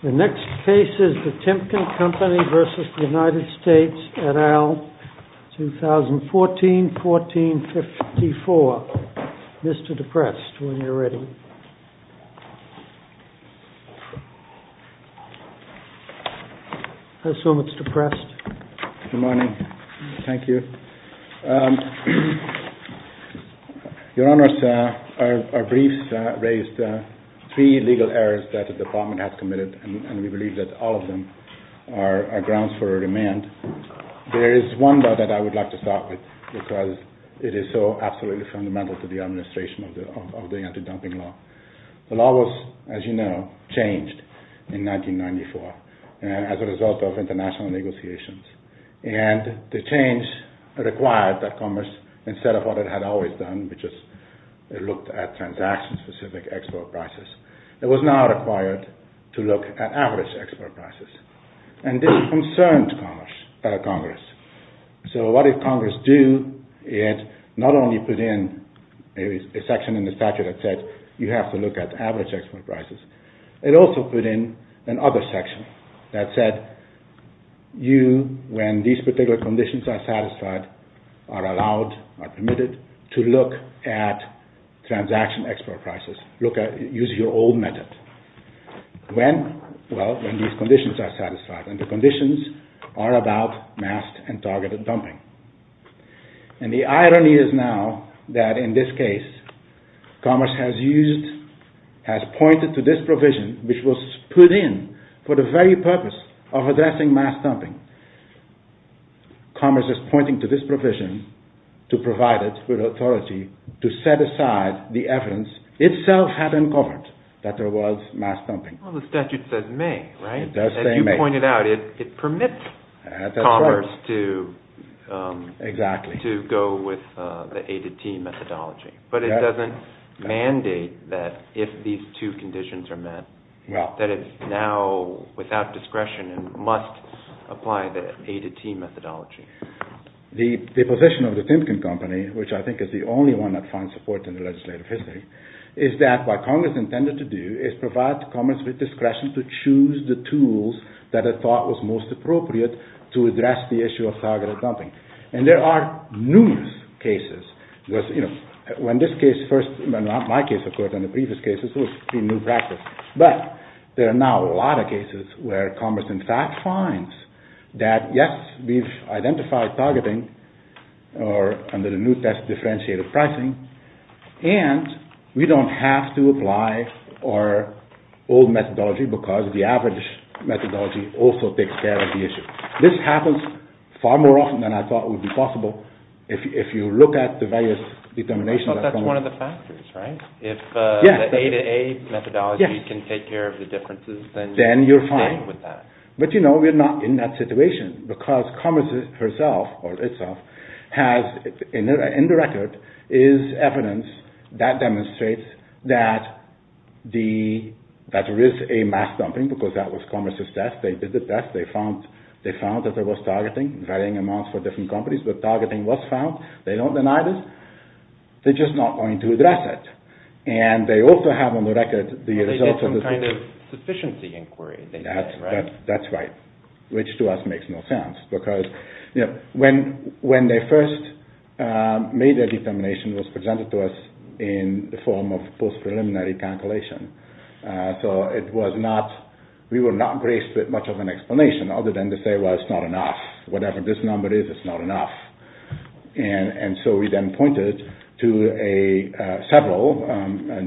The next case is the Timken Company v. The United States et al., 2014-1454. Mr. Deprest, when you're ready. Good morning. Thank you. Your Honors, our briefs raised three legal errors that the United States and the United States and we believe that all of them are grounds for remand. There is one though that I would like to start with because it is so absolutely fundamental to the administration of the anti-dumping law. The law was, as you know, changed in 1994 as a result of international negotiations. And the change required that Commerce, instead of what it had always done, which is it looked at transaction-specific export prices, it was now required to look at average export prices. And this concerned Congress. So what did Congress do? It not only put in a section in the statute that said you have to look at average export prices, it also put in another section that said you, when these particular conditions are satisfied, are allowed, are permitted, to look at transaction export prices. Look at, use your old method. When? Well, when these conditions are satisfied. And the conditions are about masked and targeted dumping. And the irony is now that in this case, Commerce has used, has pointed to this provision, which was put in for the very purpose of addressing masked dumping. Commerce is pointing to this provision to provide it with authority to set aside the evidence itself had uncovered that there was masked dumping. Well, the statute says may, right? It does say may. As you pointed out, it permits Commerce to go with the A-to-T methodology. But it doesn't mandate that if these two conditions are met, that it now, without discretion, must apply the A-to-T methodology. The position of the Timken Company, which I think is the only one that finds support in the legislative history, is that what Congress intended to do is provide Commerce with discretion to choose the tools that it thought was most appropriate to address the issue of targeted dumping. And there are numerous cases with, you know, when this case first, not my case, of course, in the previous cases, it was a new practice. But there are now a lot of cases where Commerce in fact finds that, yes, we've identified targeting under the new test differentiated pricing, and we don't have to apply our old methodology because the average methodology also takes care of the issue. This happens far more often than I thought would be possible if you look at the various determinations. But that's one of the factors, right? If the A-to-A methodology can take care of the differences, then you're fine with that. But, you know, we're not in that situation because Commerce herself or itself has in the record is evidence that demonstrates that there is a mass dumping because that was Commerce's test. They did the test. They found that there was targeting, varying amounts for different companies, but targeting was found. They don't deny this. They're just not going to address it. And they also have on the record the results of the... ...kind of sufficiency inquiry. That's right, which to us makes no sense because when they first made their determination was presented to us in the form of post-preliminary calculation. So it was not, we were not graced with much of an explanation other than to say, well, it's not enough. Whatever this number is, it's not enough. And so we then pointed to several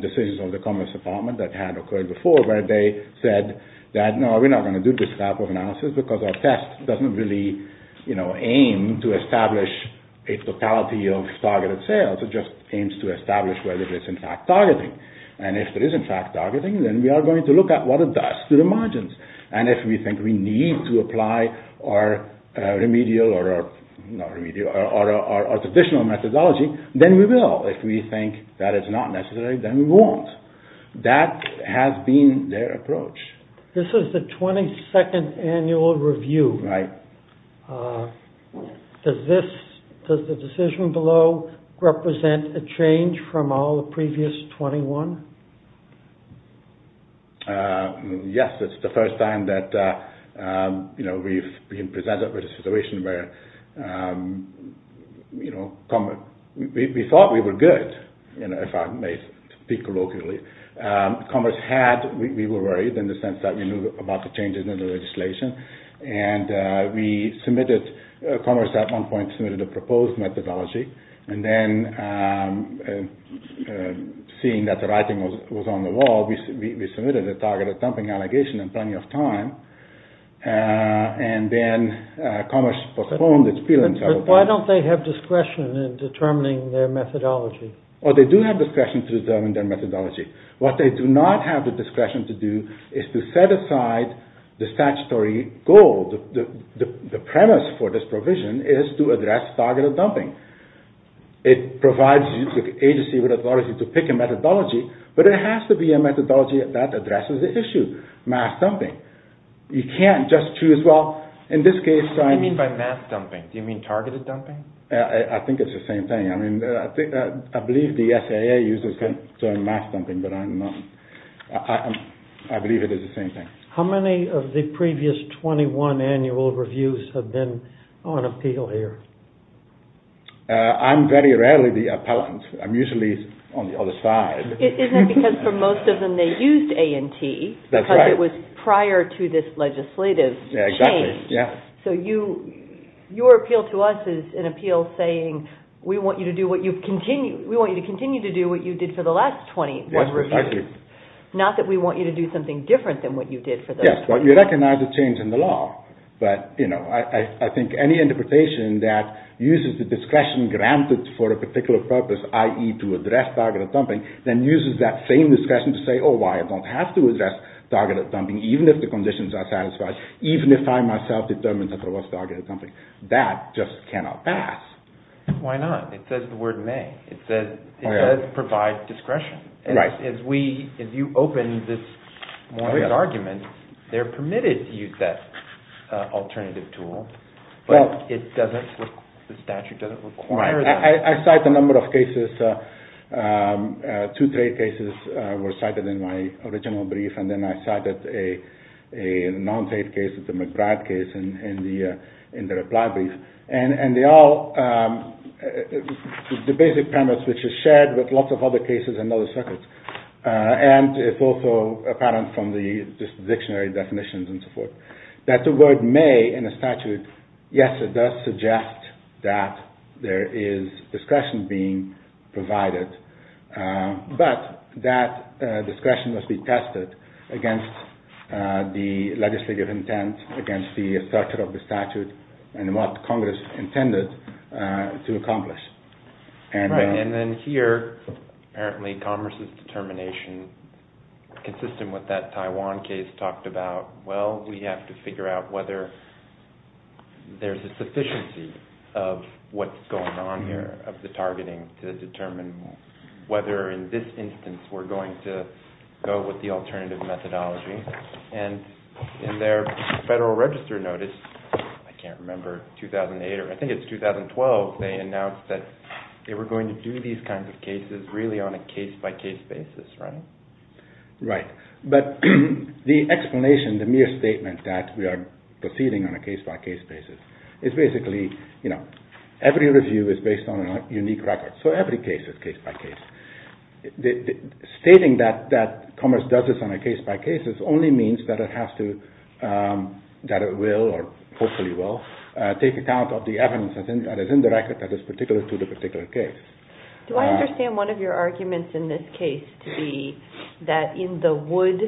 decisions of the Commerce Department that had occurred before where they said that, no, we're not going to do this type of analysis because our test doesn't really, you know, aim to establish a totality of targeted sales. It just aims to establish whether it's in fact targeting. And if it is in fact targeting, then we are going to look at what it does to the margins. And if we think we need to apply our remedial or our traditional methodology, then we will. If we think that it's not necessary, then we won't. That has been their approach. This is the 22nd annual review. Right. Does this, does the decision below represent a change from all the previous 21? Yes, it's the first time that, you know, we've been presented with a situation where, you know, we're good, you know, if I may speak colloquially. Commerce had, we were worried in the sense that we knew about the changes in the legislation. And we submitted, Commerce at one point submitted a proposed methodology. And then seeing that the writing was on the wall, we submitted a targeted dumping allegation in plenty of time. And then Commerce postponed its appeal in several places. Why don't they have discretion in determining their methodology? Well, they do have discretion to determine their methodology. What they do not have the discretion to do is to set aside the statutory goal. The premise for this provision is to address targeted dumping. It provides the agency with authority to pick a methodology, but it has to be a methodology that addresses the issue, mass dumping. You can't just choose, well, in this case, I mean… I think it's the same thing. I mean, I believe the SAA uses the term mass dumping, but I'm not, I believe it is the same thing. How many of the previous 21 annual reviews have been on appeal here? I'm very rarely the appellant. I'm usually on the other side. Isn't it because for most of them they used A&T because it was prior to this legislative change. Exactly, yeah. So your appeal to us is an appeal saying, we want you to continue to do what you did for the last 21 reviews. Yes, exactly. Not that we want you to do something different than what you did for those 21. Yes, but you recognize the change in the law. But, you know, I think any interpretation that uses the discretion granted for a particular purpose, i.e. to address targeted dumping, then uses that same discretion to say, oh, why, I don't have to address targeted dumping even if the conditions are satisfied, even if I myself determined that there was targeted dumping. That just cannot pass. Why not? It says the word may. It does provide discretion. Right. As we, as you open this argument, they're permitted to use that alternative tool, but it doesn't, the statute doesn't require that. I cite a number of cases, two trade cases were cited in my original brief, and then I cited a non-trade case, the McBride case, in the reply brief. And they all, the basic premise, which is shared with lots of other cases and other circuits, and it's also apparent from the dictionary definitions and so forth, that the word may in a statute, yes, it does suggest that there is discretion being provided, but that discretion must be tested against the legislative intent, against the structure of the statute, and what Congress intended to accomplish. Right, and then here, apparently Congress's determination, consistent with that Taiwan case, talked about, well, we have to figure out whether there's a sufficiency of what's we're targeting to determine whether in this instance we're going to go with the alternative methodology. And in their Federal Register notice, I can't remember, 2008 or I think it's 2012, they announced that they were going to do these kinds of cases really on a case-by-case basis, right? Right. But the explanation, the mere statement that we are proceeding on a case-by-case basis is basically, you know, every review is based on a unique record, so every case is case-by-case. Stating that Commerce does this on a case-by-case only means that it has to, that it will, or hopefully will, take account of the evidence that is in the record that is particular to the particular case. Do I understand one of your arguments in this case to be that in the Wood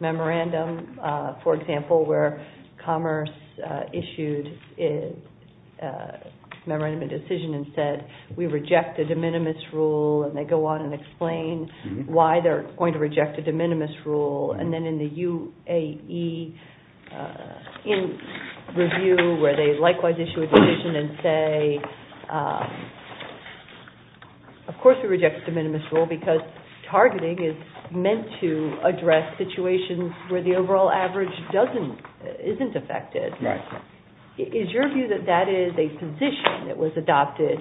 Memorandum, for example, in the Wood Memorandum of Decision it said, we reject the de minimis rule, and they go on and explain why they're going to reject the de minimis rule. And then in the UAE review where they likewise issue a decision and say, of course we reject the de minimis rule because targeting is meant to address situations where the overall average doesn't, isn't affected. Right. Is your view that that is a position that was adopted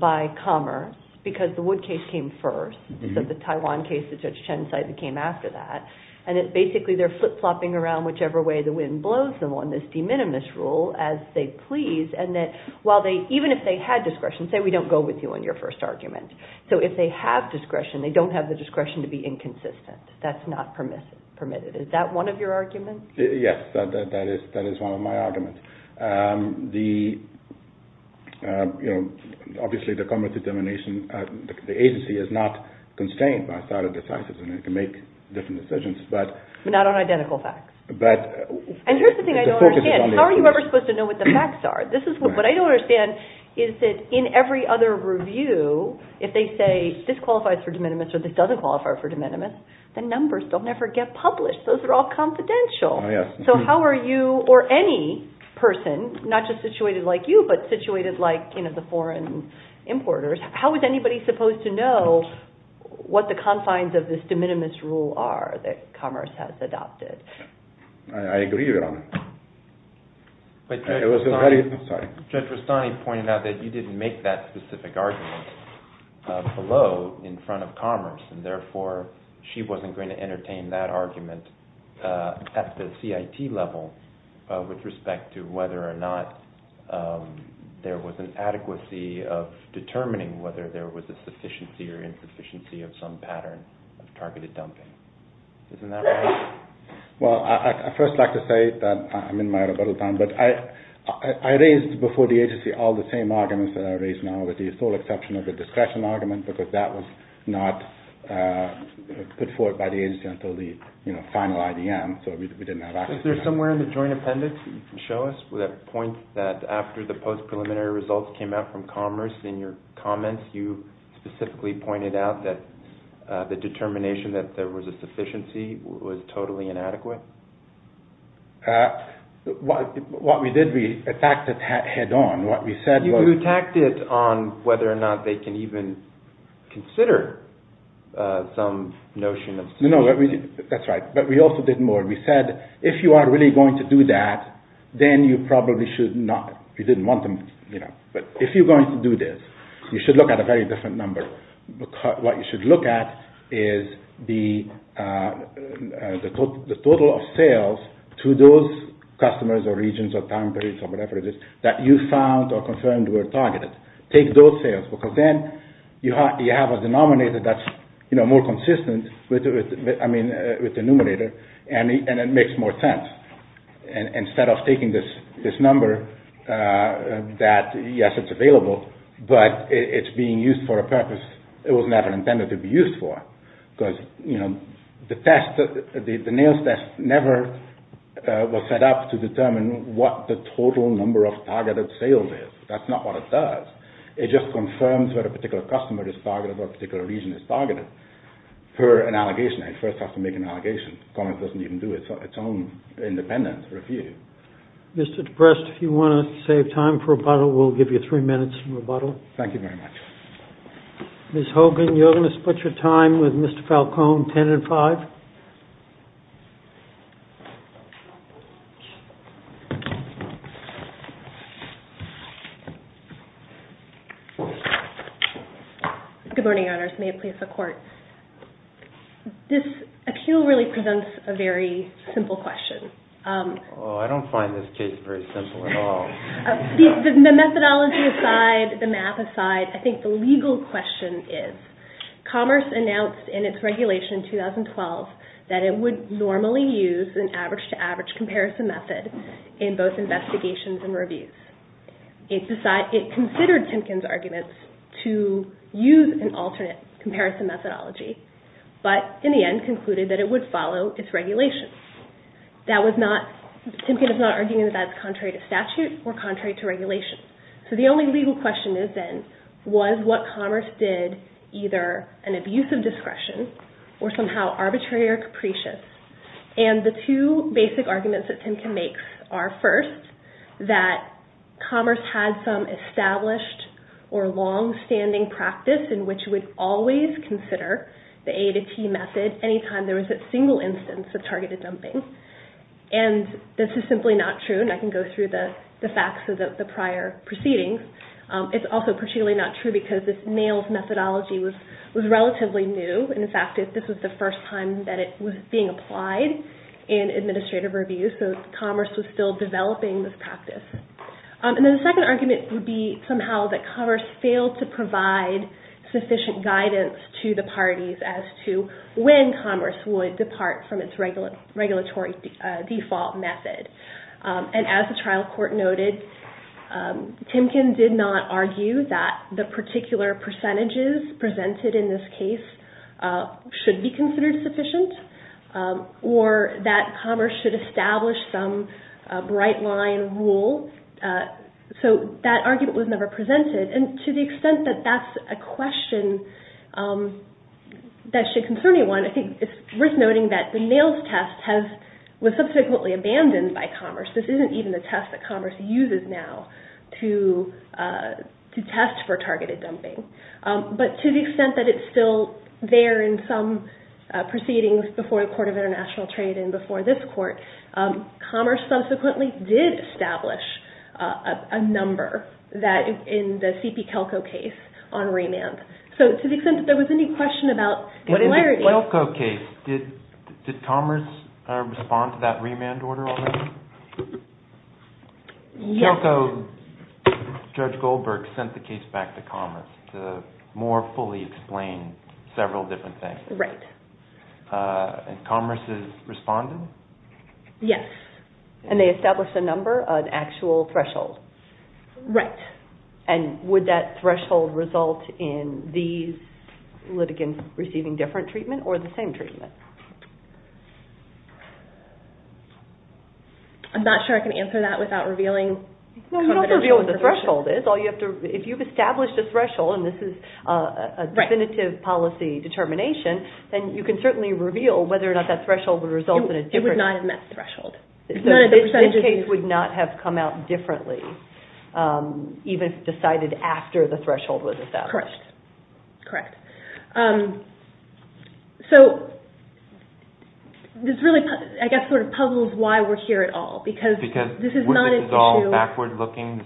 by Commerce because the Wood case came first, so the Taiwan case that Judge Chen cited came after that, and that basically they're flip-flopping around whichever way the wind blows them on this de minimis rule as they please, and that while they, even if they had discretion, say we don't go with you on your first argument. So if they have discretion, they don't have the discretion to be inconsistent. That's not permitted. Is that one of your arguments? Yes, that is one of my arguments. The, you know, obviously the Commerce determination, the agency is not constrained by a set of decisions and it can make different decisions, but... Not on identical facts. But... And here's the thing I don't understand. How are you ever supposed to know what the facts are? This is, what I don't understand is that in every other review, if they say this qualifies for de minimis or this doesn't qualify for de minimis, the numbers don't ever get published. Those are all confidential. Oh, yes. So how are you, or any person, not just situated like you, but situated like, you know, the foreign importers, how is anybody supposed to know what the confines of this de minimis rule are that Commerce has adopted? I agree with you on that. But Judge Rastani... It was a very... I'm sorry. Judge Rastani pointed out that you didn't make that specific argument below in front of Commerce and therefore she wasn't going to entertain that argument at the CIT level with respect to whether or not there was an adequacy of determining whether there was a sufficiency or insufficiency of some pattern of targeted dumping. Isn't that right? Well, I'd first like to say that I'm in my rebuttal time, but I raised before the agency all the same arguments that I raise now with the sole exception of the discretion argument because that was not put forward by the agency until the, you know, final IDM, so we didn't have access to that. Is there somewhere in the joint appendix that you can show us that points that after the post-preliminary results came out from Commerce in your comments, you specifically pointed out that the determination that there was a sufficiency was totally inadequate? What we did, we attacked it head on. What we said was... You attacked it on whether or not they can even consider some notion of sufficiency. No, that's right, but we also did more. We said if you are really going to do that, then you probably should not, you didn't want them, you know, but if you're going to do this, you should look at a very different number. What you should look at is the total of sales to those customers or regions or time periods or whatever it is that you found or confirmed were targeted. Take those sales because then you have a denominator that's, you know, more consistent with the numerator and it makes more sense. Instead of taking this number that, yes, it's available, but it's being used for a purpose it was never intended to be used for. Because, you know, the test, the NAILS test never was set up to determine what the total number of targeted sales is. That's not what it does. It just confirms what a particular customer is targeted or a particular region is targeted for an allegation. It first has to make an allegation. Commerce doesn't even do its own independent review. Mr. Deprest, if you want to save time for rebuttal, we'll give you three minutes for rebuttal. Thank you very much. Ms. Hogan, you're going to split your time with Mr. Falcone, 10 and 5. Good morning, Your Honors. May it please the Court. This accuse really presents a very simple question. Oh, I don't find this case very simple at all. The methodology aside, the math aside, I think the legal question is, Commerce announced in its regulation in 2012 that it would normally use an average-to-average comparison method in both investigations and reviews. It considered Timken's arguments to use an alternate comparison methodology, but in the end concluded that it would follow its regulations. Timken is not arguing that that's contrary to statute or contrary to regulation. The only legal question is then, was what Commerce did either an abuse of discretion or somehow arbitrary or capricious? The two basic arguments that Timken makes are, first, that Commerce had some established or long-standing practice in which it would always consider the A-to-T method any time there was a single instance of targeted dumping. This is simply not true, and I can go through the facts of the prior proceedings. It's also particularly not true because this NAILS methodology was relatively new. In fact, this was the first time that it was being applied in administrative reviews, so Commerce was still developing this practice. The second argument would be somehow that Commerce failed to provide sufficient guidance to the parties as to when Commerce would depart from its regulatory default method. As the trial court noted, Timken did not argue that the particular percentages presented in this case should be considered sufficient or that Commerce should establish some bright line rule. That argument was never presented. To the extent that that's a question that should concern anyone, I think it's worth noting that the NAILS test was subsequently abandoned by Commerce. This isn't even the test that Commerce uses now to test for targeted dumping. But to the extent that it's still there in some proceedings before the Court of International Trade and before this Court, Commerce subsequently did establish a number in the C.P. Kelko case on remand. To the extent that there was any question about clarity... In the Kelko case, did Commerce respond to that remand order already? Yes. Kelko, Judge Goldberg sent the case back to Commerce to more fully explain several different things. Right. And Commerce responded? Yes. And they established a number, an actual threshold? Right. And would that threshold result in these litigants receiving different treatment or the same treatment? I'm not sure I can answer that without revealing... You don't have to reveal what the threshold is. If you've established a threshold, and this is a definitive policy determination, then you can certainly reveal whether or not that threshold would result in a different... It would not have met the threshold. So this case would not have come out differently, even if decided after the threshold was established? Correct. Correct. This really, I guess, sort of puzzles why we're here at all. Because this is not an issue...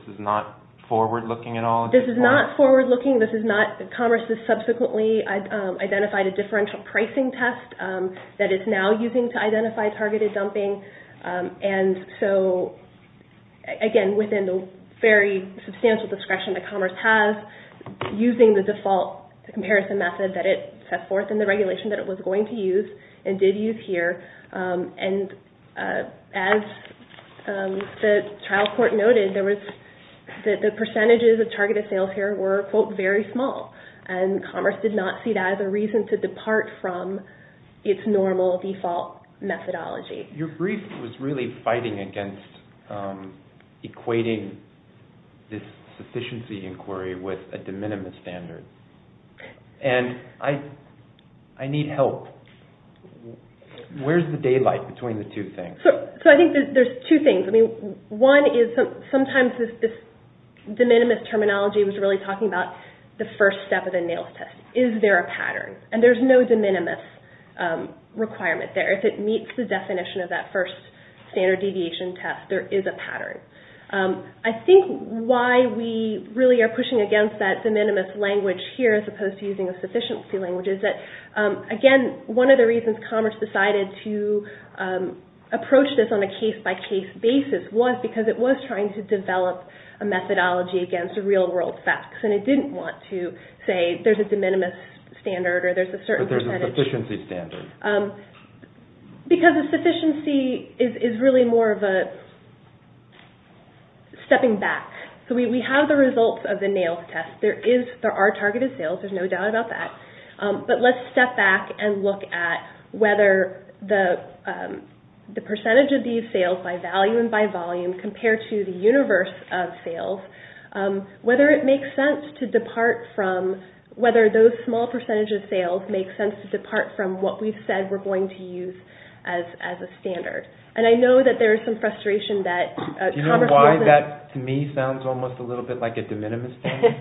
This is not forward-looking at all? This is not forward-looking. This is not... Commerce has subsequently identified a differential pricing test that it's now using to identify targeted dumping. And so, again, within the very substantial discretion that Commerce has, using the default comparison method that it set forth in the regulation that it was going to use and did use here. And as the trial court noted, the percentages of targeted sales here were, quote, very small. And Commerce did not see that as a reason to depart from its normal default methodology. Your brief was really fighting against equating this sufficiency inquiry with a de minimis standard. And I need help. Where's the daylight between the two things? So I think there's two things. I mean, one is sometimes this de minimis terminology was really talking about the first step of the NAILS test. Is there a pattern? And there's no de minimis requirement there. If it meets the definition of that first standard deviation test, there is a pattern. I think why we really are pushing against that de minimis language here, as opposed to using a sufficiency language, is that, again, one of the reasons Commerce decided to approach this on a case-by-case basis was because it was trying to develop a methodology against real-world facts. And it didn't want to say there's a de minimis standard or there's a certain percentage. But there's a sufficiency standard. Because a sufficiency is really more of a stepping back. So we have the results of the NAILS test. There are targeted sales. There's no doubt about that. But let's step back and look at whether the percentage of these sales, by value and by volume, compared to the universe of sales, whether it makes sense to depart from – whether those small percentages of sales make sense to depart from what we've said we're going to use as a standard. And I know that there is some frustration that Commerce wasn't – Do you know why that, to me, sounds almost a little bit like a de minimis standard?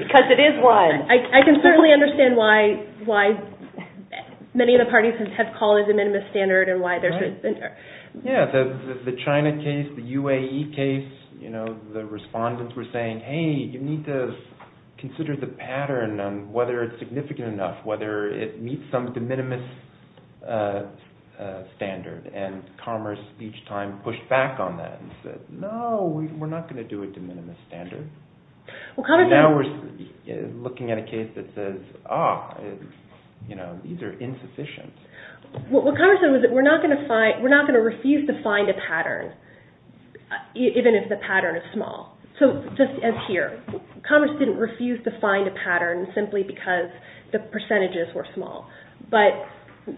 Because it is one. I can certainly understand why many of the parties have called it a de minimis standard and why there's – Yeah, the China case, the UAE case, the respondents were saying, hey, you need to consider the pattern on whether it's significant enough, whether it meets some de minimis standard. And Commerce, each time, pushed back on that and said, no, we're not going to do a de minimis standard. And now we're looking at a case that says, ah, these are insufficient. What Commerce said was that we're not going to refuse to find a pattern, even if the pattern is small. So just as here, Commerce didn't refuse to find a pattern simply because the percentages were small. But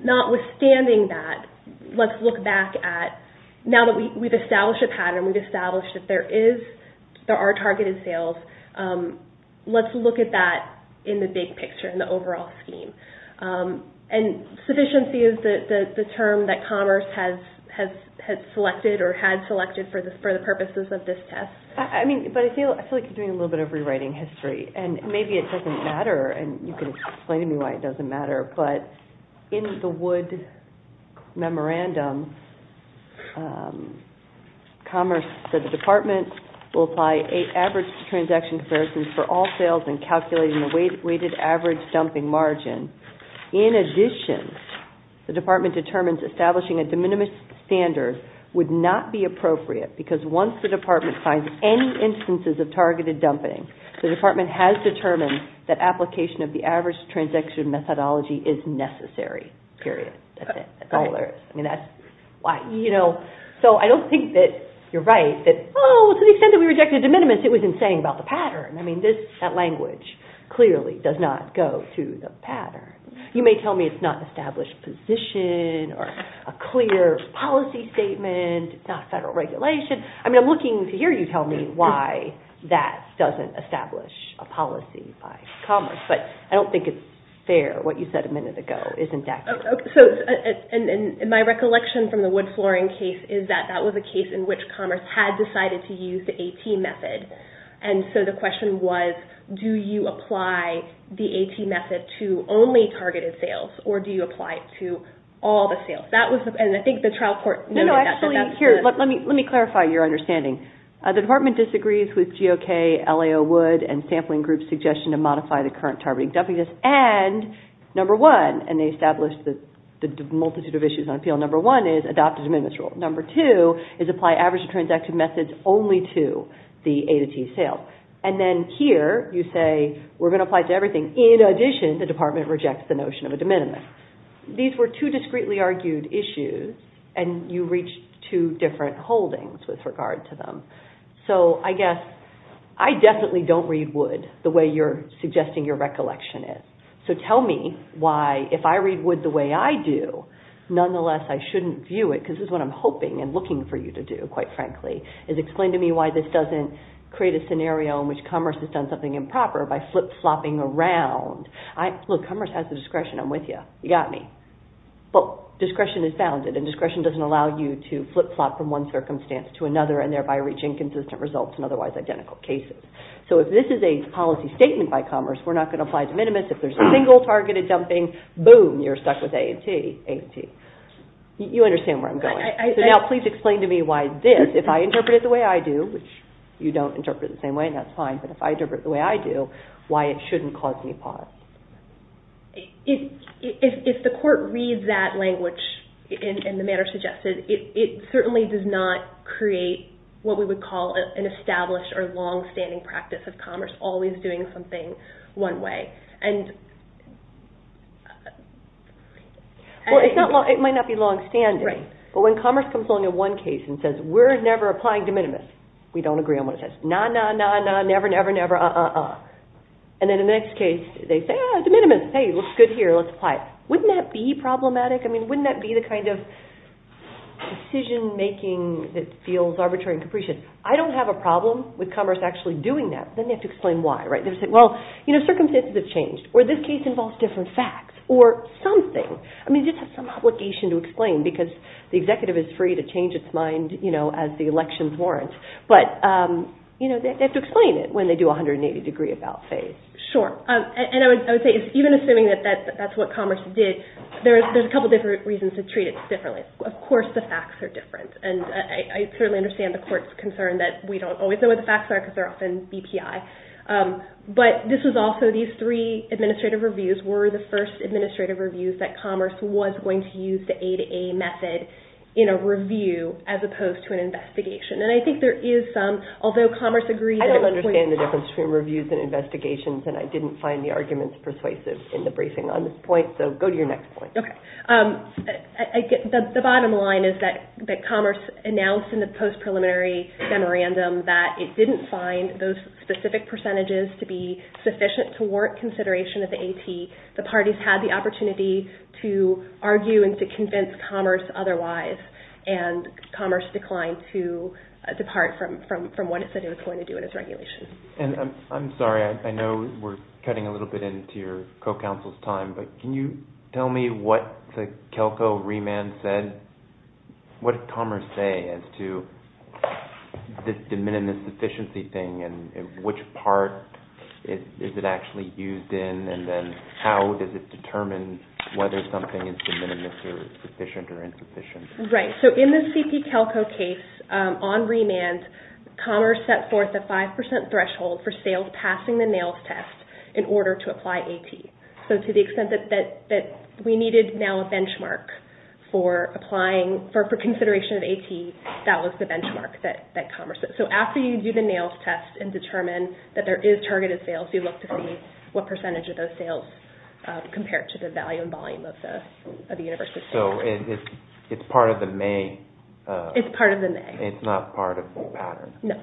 notwithstanding that, let's look back at – now that we've established a pattern, we've established that there is – there are targeted sales, let's look at that in the big picture, in the overall scheme. And sufficiency is the term that Commerce has selected or had selected for the purposes of this test. I mean, but I feel like you're doing a little bit of rewriting history. And maybe it doesn't matter, and you can explain to me why it doesn't matter. But in the Wood Memorandum, Commerce said the Department will apply an average transaction comparison for all sales and calculate the weighted average dumping margin. In addition, the Department determines establishing a de minimis standard would not be appropriate because once the Department finds any instances of targeted dumping, the Department has determined that application of the average transaction methodology is necessary. Period. That's it. That's all there is. I mean, that's why – you know, so I don't think that you're right that, oh, to the extent that we rejected de minimis, it was insane about the pattern. I mean, this – that language clearly does not go to the pattern. You may tell me it's not an established position or a clear policy statement, not federal regulation. I mean, I'm looking to hear you tell me why that doesn't establish a policy by Commerce, but I don't think it's fair. What you said a minute ago isn't accurate. So – and my recollection from the Wood Flooring case is that that was a case in which Commerce had decided to use the AT method. And so the question was, do you apply the AT method to only targeted sales, or do you apply it to all the sales? That was – and I think the trial court noted that. Actually, here, let me clarify your understanding. The department disagrees with GOK, LAO, Wood, and sampling groups' suggestion to modify the current targeting. And number one – and they established the multitude of issues on appeal – number one is adopt a de minimis rule. Number two is apply average transactive methods only to the A to T sales. And then here you say, we're going to apply it to everything. In addition, the department rejects the notion of a de minimis. These were two discreetly argued issues, and you reached two different holdings with regard to them. So I guess – I definitely don't read Wood the way you're suggesting your recollection is. So tell me why, if I read Wood the way I do, nonetheless I shouldn't view it, because this is what I'm hoping and looking for you to do, quite frankly, is explain to me why this doesn't create a scenario in which Commerce has done something improper by flip-flopping around. Look, Commerce has the discretion. I'm with you. You got me. But discretion is bounded, and discretion doesn't allow you to flip-flop from one circumstance to another and thereby reach inconsistent results in otherwise identical cases. So if this is a policy statement by Commerce, we're not going to apply de minimis. If there's a single targeted dumping, boom, you're stuck with A and T. You understand where I'm going. So now please explain to me why this, if I interpret it the way I do – which you don't interpret it the same way, and that's fine – but if I interpret it the way I do, why it shouldn't cause me pause. If the court reads that language in the manner suggested, it certainly does not create what we would call an established or long-standing practice of Commerce always doing something one way. Well, it might not be long-standing, but when Commerce comes along in one case and says, we're never applying de minimis, we don't agree on what it says. Nah, nah, nah, nah, never, never, never, uh-uh-uh. And then the next case, they say, ah, de minimis, hey, looks good here, let's apply it. Wouldn't that be problematic? I mean, wouldn't that be the kind of decision-making that feels arbitrary and capricious? I don't have a problem with Commerce actually doing that. Then they have to explain why, right? They would say, well, you know, circumstances have changed, or this case involves different facts, or something. I mean, they just have some obligation to explain, because the executive is free to change its mind, you know, as the elections warrant. But, you know, they have to explain it when they do a 180-degree about phase. Sure. And I would say, even assuming that that's what Commerce did, there's a couple different reasons to treat it differently. Of course the facts are different, and I certainly understand the court's concern that we don't always know what the facts are, because they're often BPI. But this was also, these three administrative reviews were the first administrative reviews that Commerce was going to use the A-to-A method in a review, as opposed to an investigation. And I think there is some, although Commerce agreed that it was... I don't understand the difference between reviews and investigations, and I didn't find the arguments persuasive in the briefing on this point, so go to your next point. Okay. The bottom line is that Commerce announced in the post-preliminary memorandum that it didn't find those specific percentages to be sufficient to warrant consideration of the AT. The parties had the opportunity to argue and to convince Commerce otherwise, and Commerce declined to depart from what it said it was going to do in its regulations. And I'm sorry, I know we're cutting a little bit into your co-counsel's time, but can you tell me what the CALCO remand said? What did Commerce say as to this de minimis efficiency thing, and which part is it actually used in, and then how does it determine whether something is de minimis or sufficient or insufficient? Right. So in the CP CALCO case, on remand, Commerce set forth a 5% threshold for sales passing the NAILS test in order to apply AT. So to the extent that we needed now a benchmark for applying, for consideration of AT, that was the benchmark that Commerce set. So after you do the NAILS test and determine that there is targeted sales, you look to see what percentage of those sales compared to the value and volume of the university sales. So it's part of the May... It's part of the May. It's not part of the pattern. No.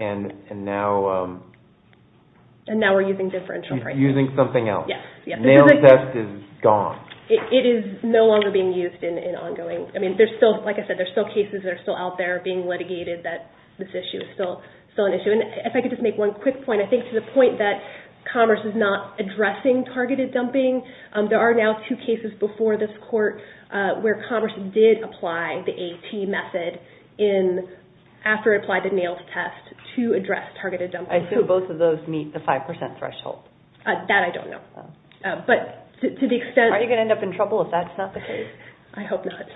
And now... And now we're using differential pricing. Using something else. Yes, yes. NAILS test is gone. It is no longer being used in ongoing, I mean, there's still, like I said, there's still cases that are still out there being litigated that this issue is still an issue. And if I could just make one quick point, I think to the point that Commerce is not where Commerce did apply the AT method in... After it applied the NAILS test to address targeted dumping. I assume both of those meet the 5% threshold. That I don't know. But to the extent... Are you going to end up in trouble if that's not the case? I hope not.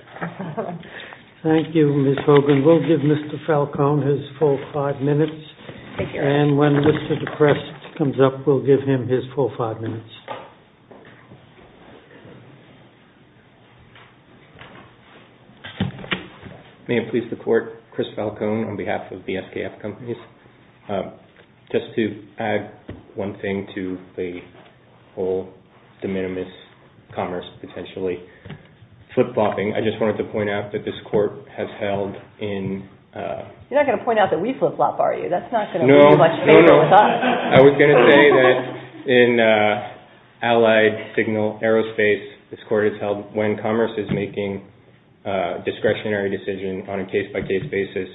Thank you, Ms. Hogan. We'll give Mr. Falcone his full five minutes. Thank you. And when Mr. Deprest comes up, we'll give him his full five minutes. May it please the Court, Chris Falcone on behalf of the SKF Companies. Just to add one thing to the whole de minimis Commerce potentially. Flip-flopping. I just wanted to point out that this Court has held in... You're not going to point out that we flip-flop, are you? That's not going to be much favor with us. No, no. When Commerce is making a discretionary decision on a case-by-case basis,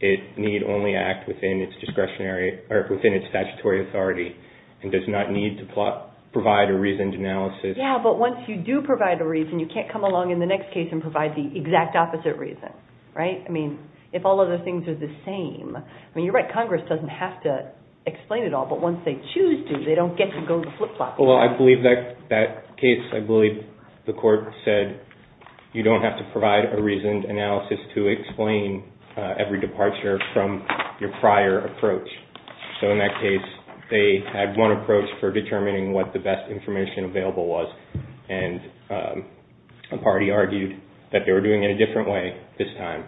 it need only act within its statutory authority and does not need to provide a reasoned analysis. Yeah, but once you do provide a reason, you can't come along in the next case and provide the exact opposite reason. Right? I mean, if all other things are the same... I mean, you're right. Congress doesn't have to explain it all. But once they choose to, they don't get to go flip-flopping. Well, I believe that case, I believe the Court said, you don't have to provide a reasoned analysis to explain every departure from your prior approach. So in that case, they had one approach for determining what the best information available was and a party argued that they were doing it a different way this time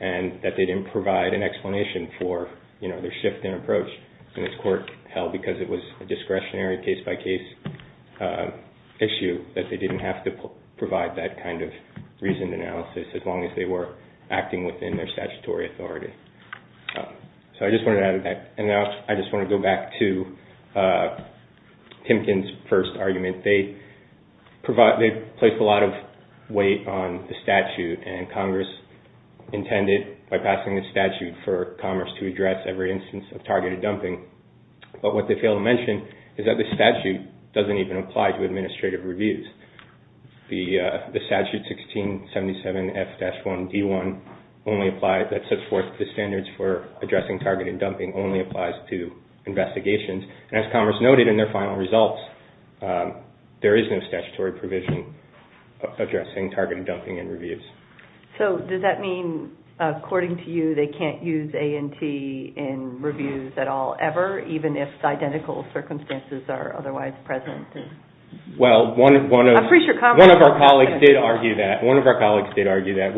and that they didn't provide an explanation for their shift in approach. And this Court held, because it was a discretionary case-by-case issue, that they didn't have to provide that kind of reasoned analysis as long as they were acting within their statutory authority. So I just wanted to add to that. And now I just want to go back to Timkin's first argument. They placed a lot of weight on the statute and Congress intended, by passing the statute, for Congress to address every instance of targeted dumping. But what they fail to mention is that the statute doesn't even apply to administrative reviews. The statute 1677F-1D1 only applies, that sets forth the standards for addressing targeted dumping, only applies to investigations. And as Congress noted in their final results, there is no statutory provision addressing targeted dumping in reviews. So does that mean, according to you, they can't use A&T in reviews at all, ever, even if identical circumstances are otherwise present? Well, one of our colleagues did argue that.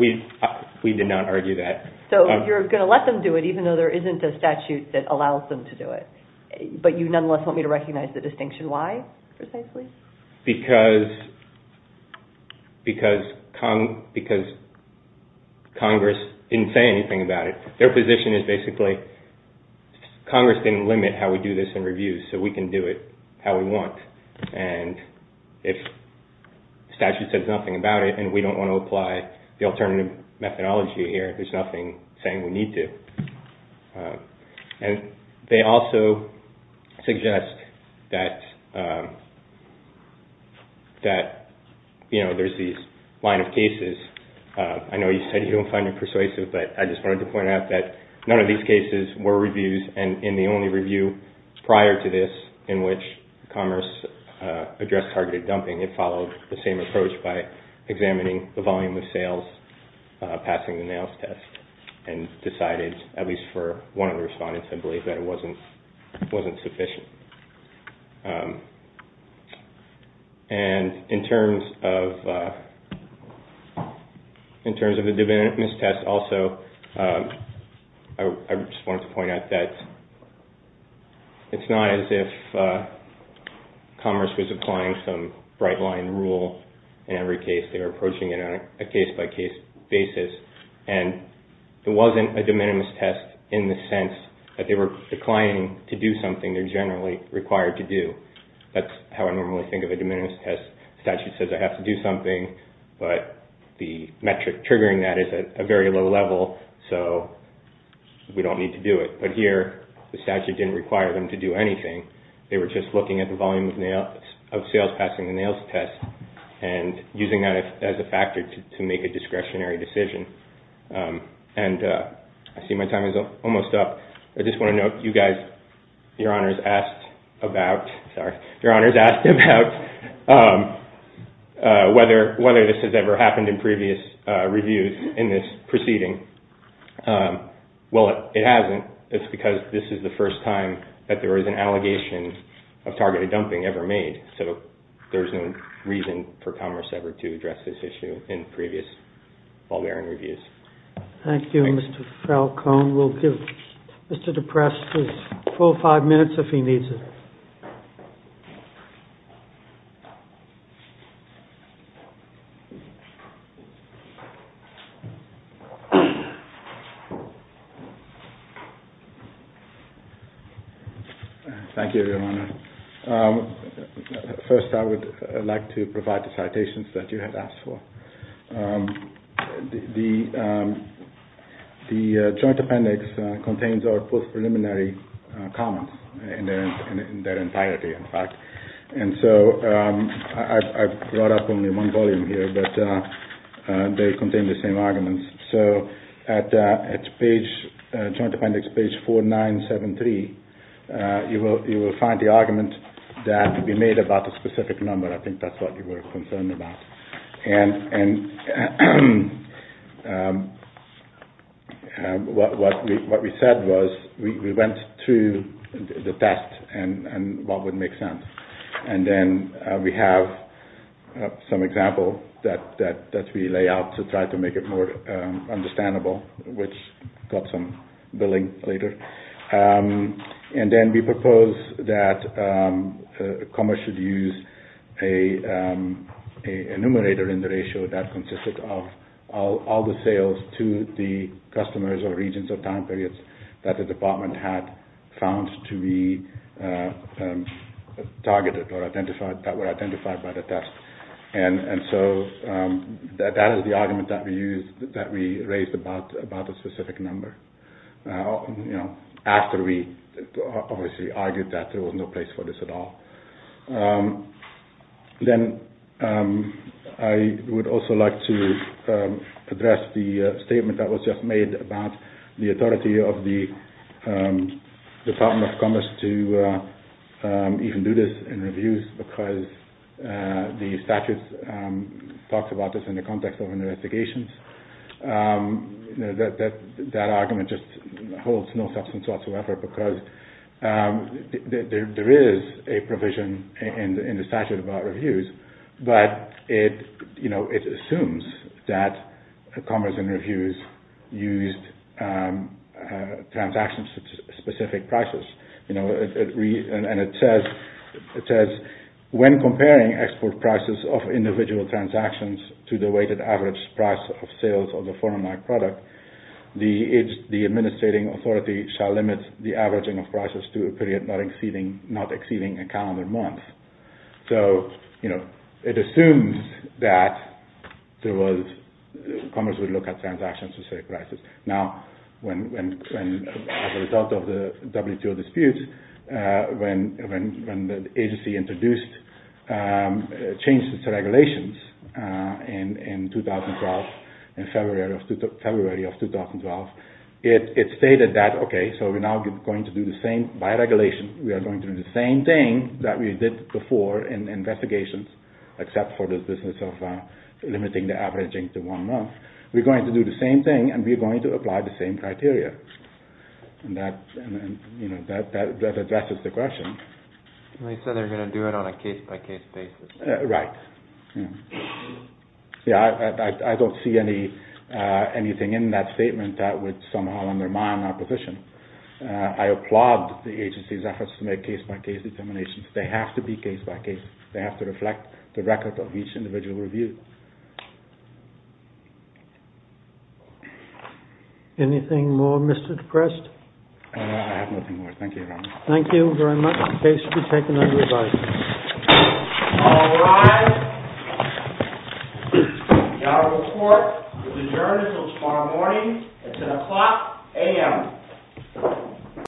We did not argue that. So you're going to let them do it, even though there isn't a statute that allows them to do it. But you nonetheless want me to recognize the distinction. Why, precisely? Because Congress didn't say anything about it. Their position is basically, Congress didn't limit how we do this in reviews, so we can do it how we want. And if the statute says nothing about it and we don't want to apply the alternative methodology here, there's nothing saying we need to. And they also suggest that there's these line of cases. I know you said you don't find it persuasive, but I just wanted to point out that none of these cases were reviews, and in the only review prior to this in which Congress addressed targeted dumping, passing the NAILS test, and decided, at least for one of the respondents, I believe that it wasn't sufficient. And in terms of the Divinity Test also, I just wanted to point out that it's not as if Congress was applying some bright-line rule in every case. They were approaching it on a case-by-case basis, and it wasn't a de minimis test in the sense that they were declining to do something they're generally required to do. That's how I normally think of a de minimis test. The statute says I have to do something, but the metric triggering that is at a very low level, so we don't need to do it. But here, the statute didn't require them to do anything. They were just looking at the volume of sales passing the NAILS test and using that as a factor to make a discretionary decision. And I see my time is almost up. I just want to note you guys, Your Honors, asked about whether this has ever happened in previous reviews in this proceeding. Well, it hasn't. It's because this is the first time that there was an allegation of targeted dumping ever made, so there's no reason for Commerce ever to address this issue in previous Bulgarian reviews. Thank you, Mr. Falcone. We'll give Mr. DePresse his full five minutes if he needs it. Thank you, Your Honor. First, I would like to provide the citations that you had asked for. The Joint Appendix contains our post-preliminary comments in their entirety, in fact. And so I've brought up only one volume here, but they contain the same arguments. So at Joint Appendix page 4973, you will find the argument that we made about the specific number. I think that's what you were concerned about. And what we said was we went through the test and what would make sense. And then we have some example that we lay out to try to make it more understandable, which got some billing later. And then we proposed that Commerce should use a numerator in the ratio that consisted of all the sales to the customers or regions or time periods that the department had found to be targeted or that were identified by the test. And so that is the argument that we raised about the specific number. After we obviously argued that there was no place for this at all. Then I would also like to address the statement that was just made about the authority of the Department of Commerce to even do this in reviews because the statutes talked about this in the context of investigations. That argument just holds no substance whatsoever because there is a provision in the statute about reviews, but it assumes that Commerce in reviews used transaction-specific prices. And it says, when comparing export prices of individual transactions to the weighted average price of sales of a foreign-like product, the administrating authority shall limit the averaging of prices to a period not exceeding a calendar month. So it assumes that Commerce would look at transaction-specific prices. Now, as a result of the WTO dispute, when the agency introduced changes to regulations, in February of 2012, it stated that, okay, so we're now going to do the same, by regulation, we are going to do the same thing that we did before in investigations, except for the business of limiting the averaging to one month. We're going to do the same thing, and we're going to apply the same criteria. And that addresses the question. They said they're going to do it on a case-by-case basis. Right. Yeah, I don't see anything in that statement that would somehow undermine our position. I applaud the agency's efforts to make case-by-case determinations. They have to be case-by-case. They have to reflect the record of each individual review. Anything more, Mr. DePrest? I have nothing more. Thank you. Thank you very much. The case will be taken under review. All rise. Our report will adjourn until tomorrow morning. It's at o'clock a.m.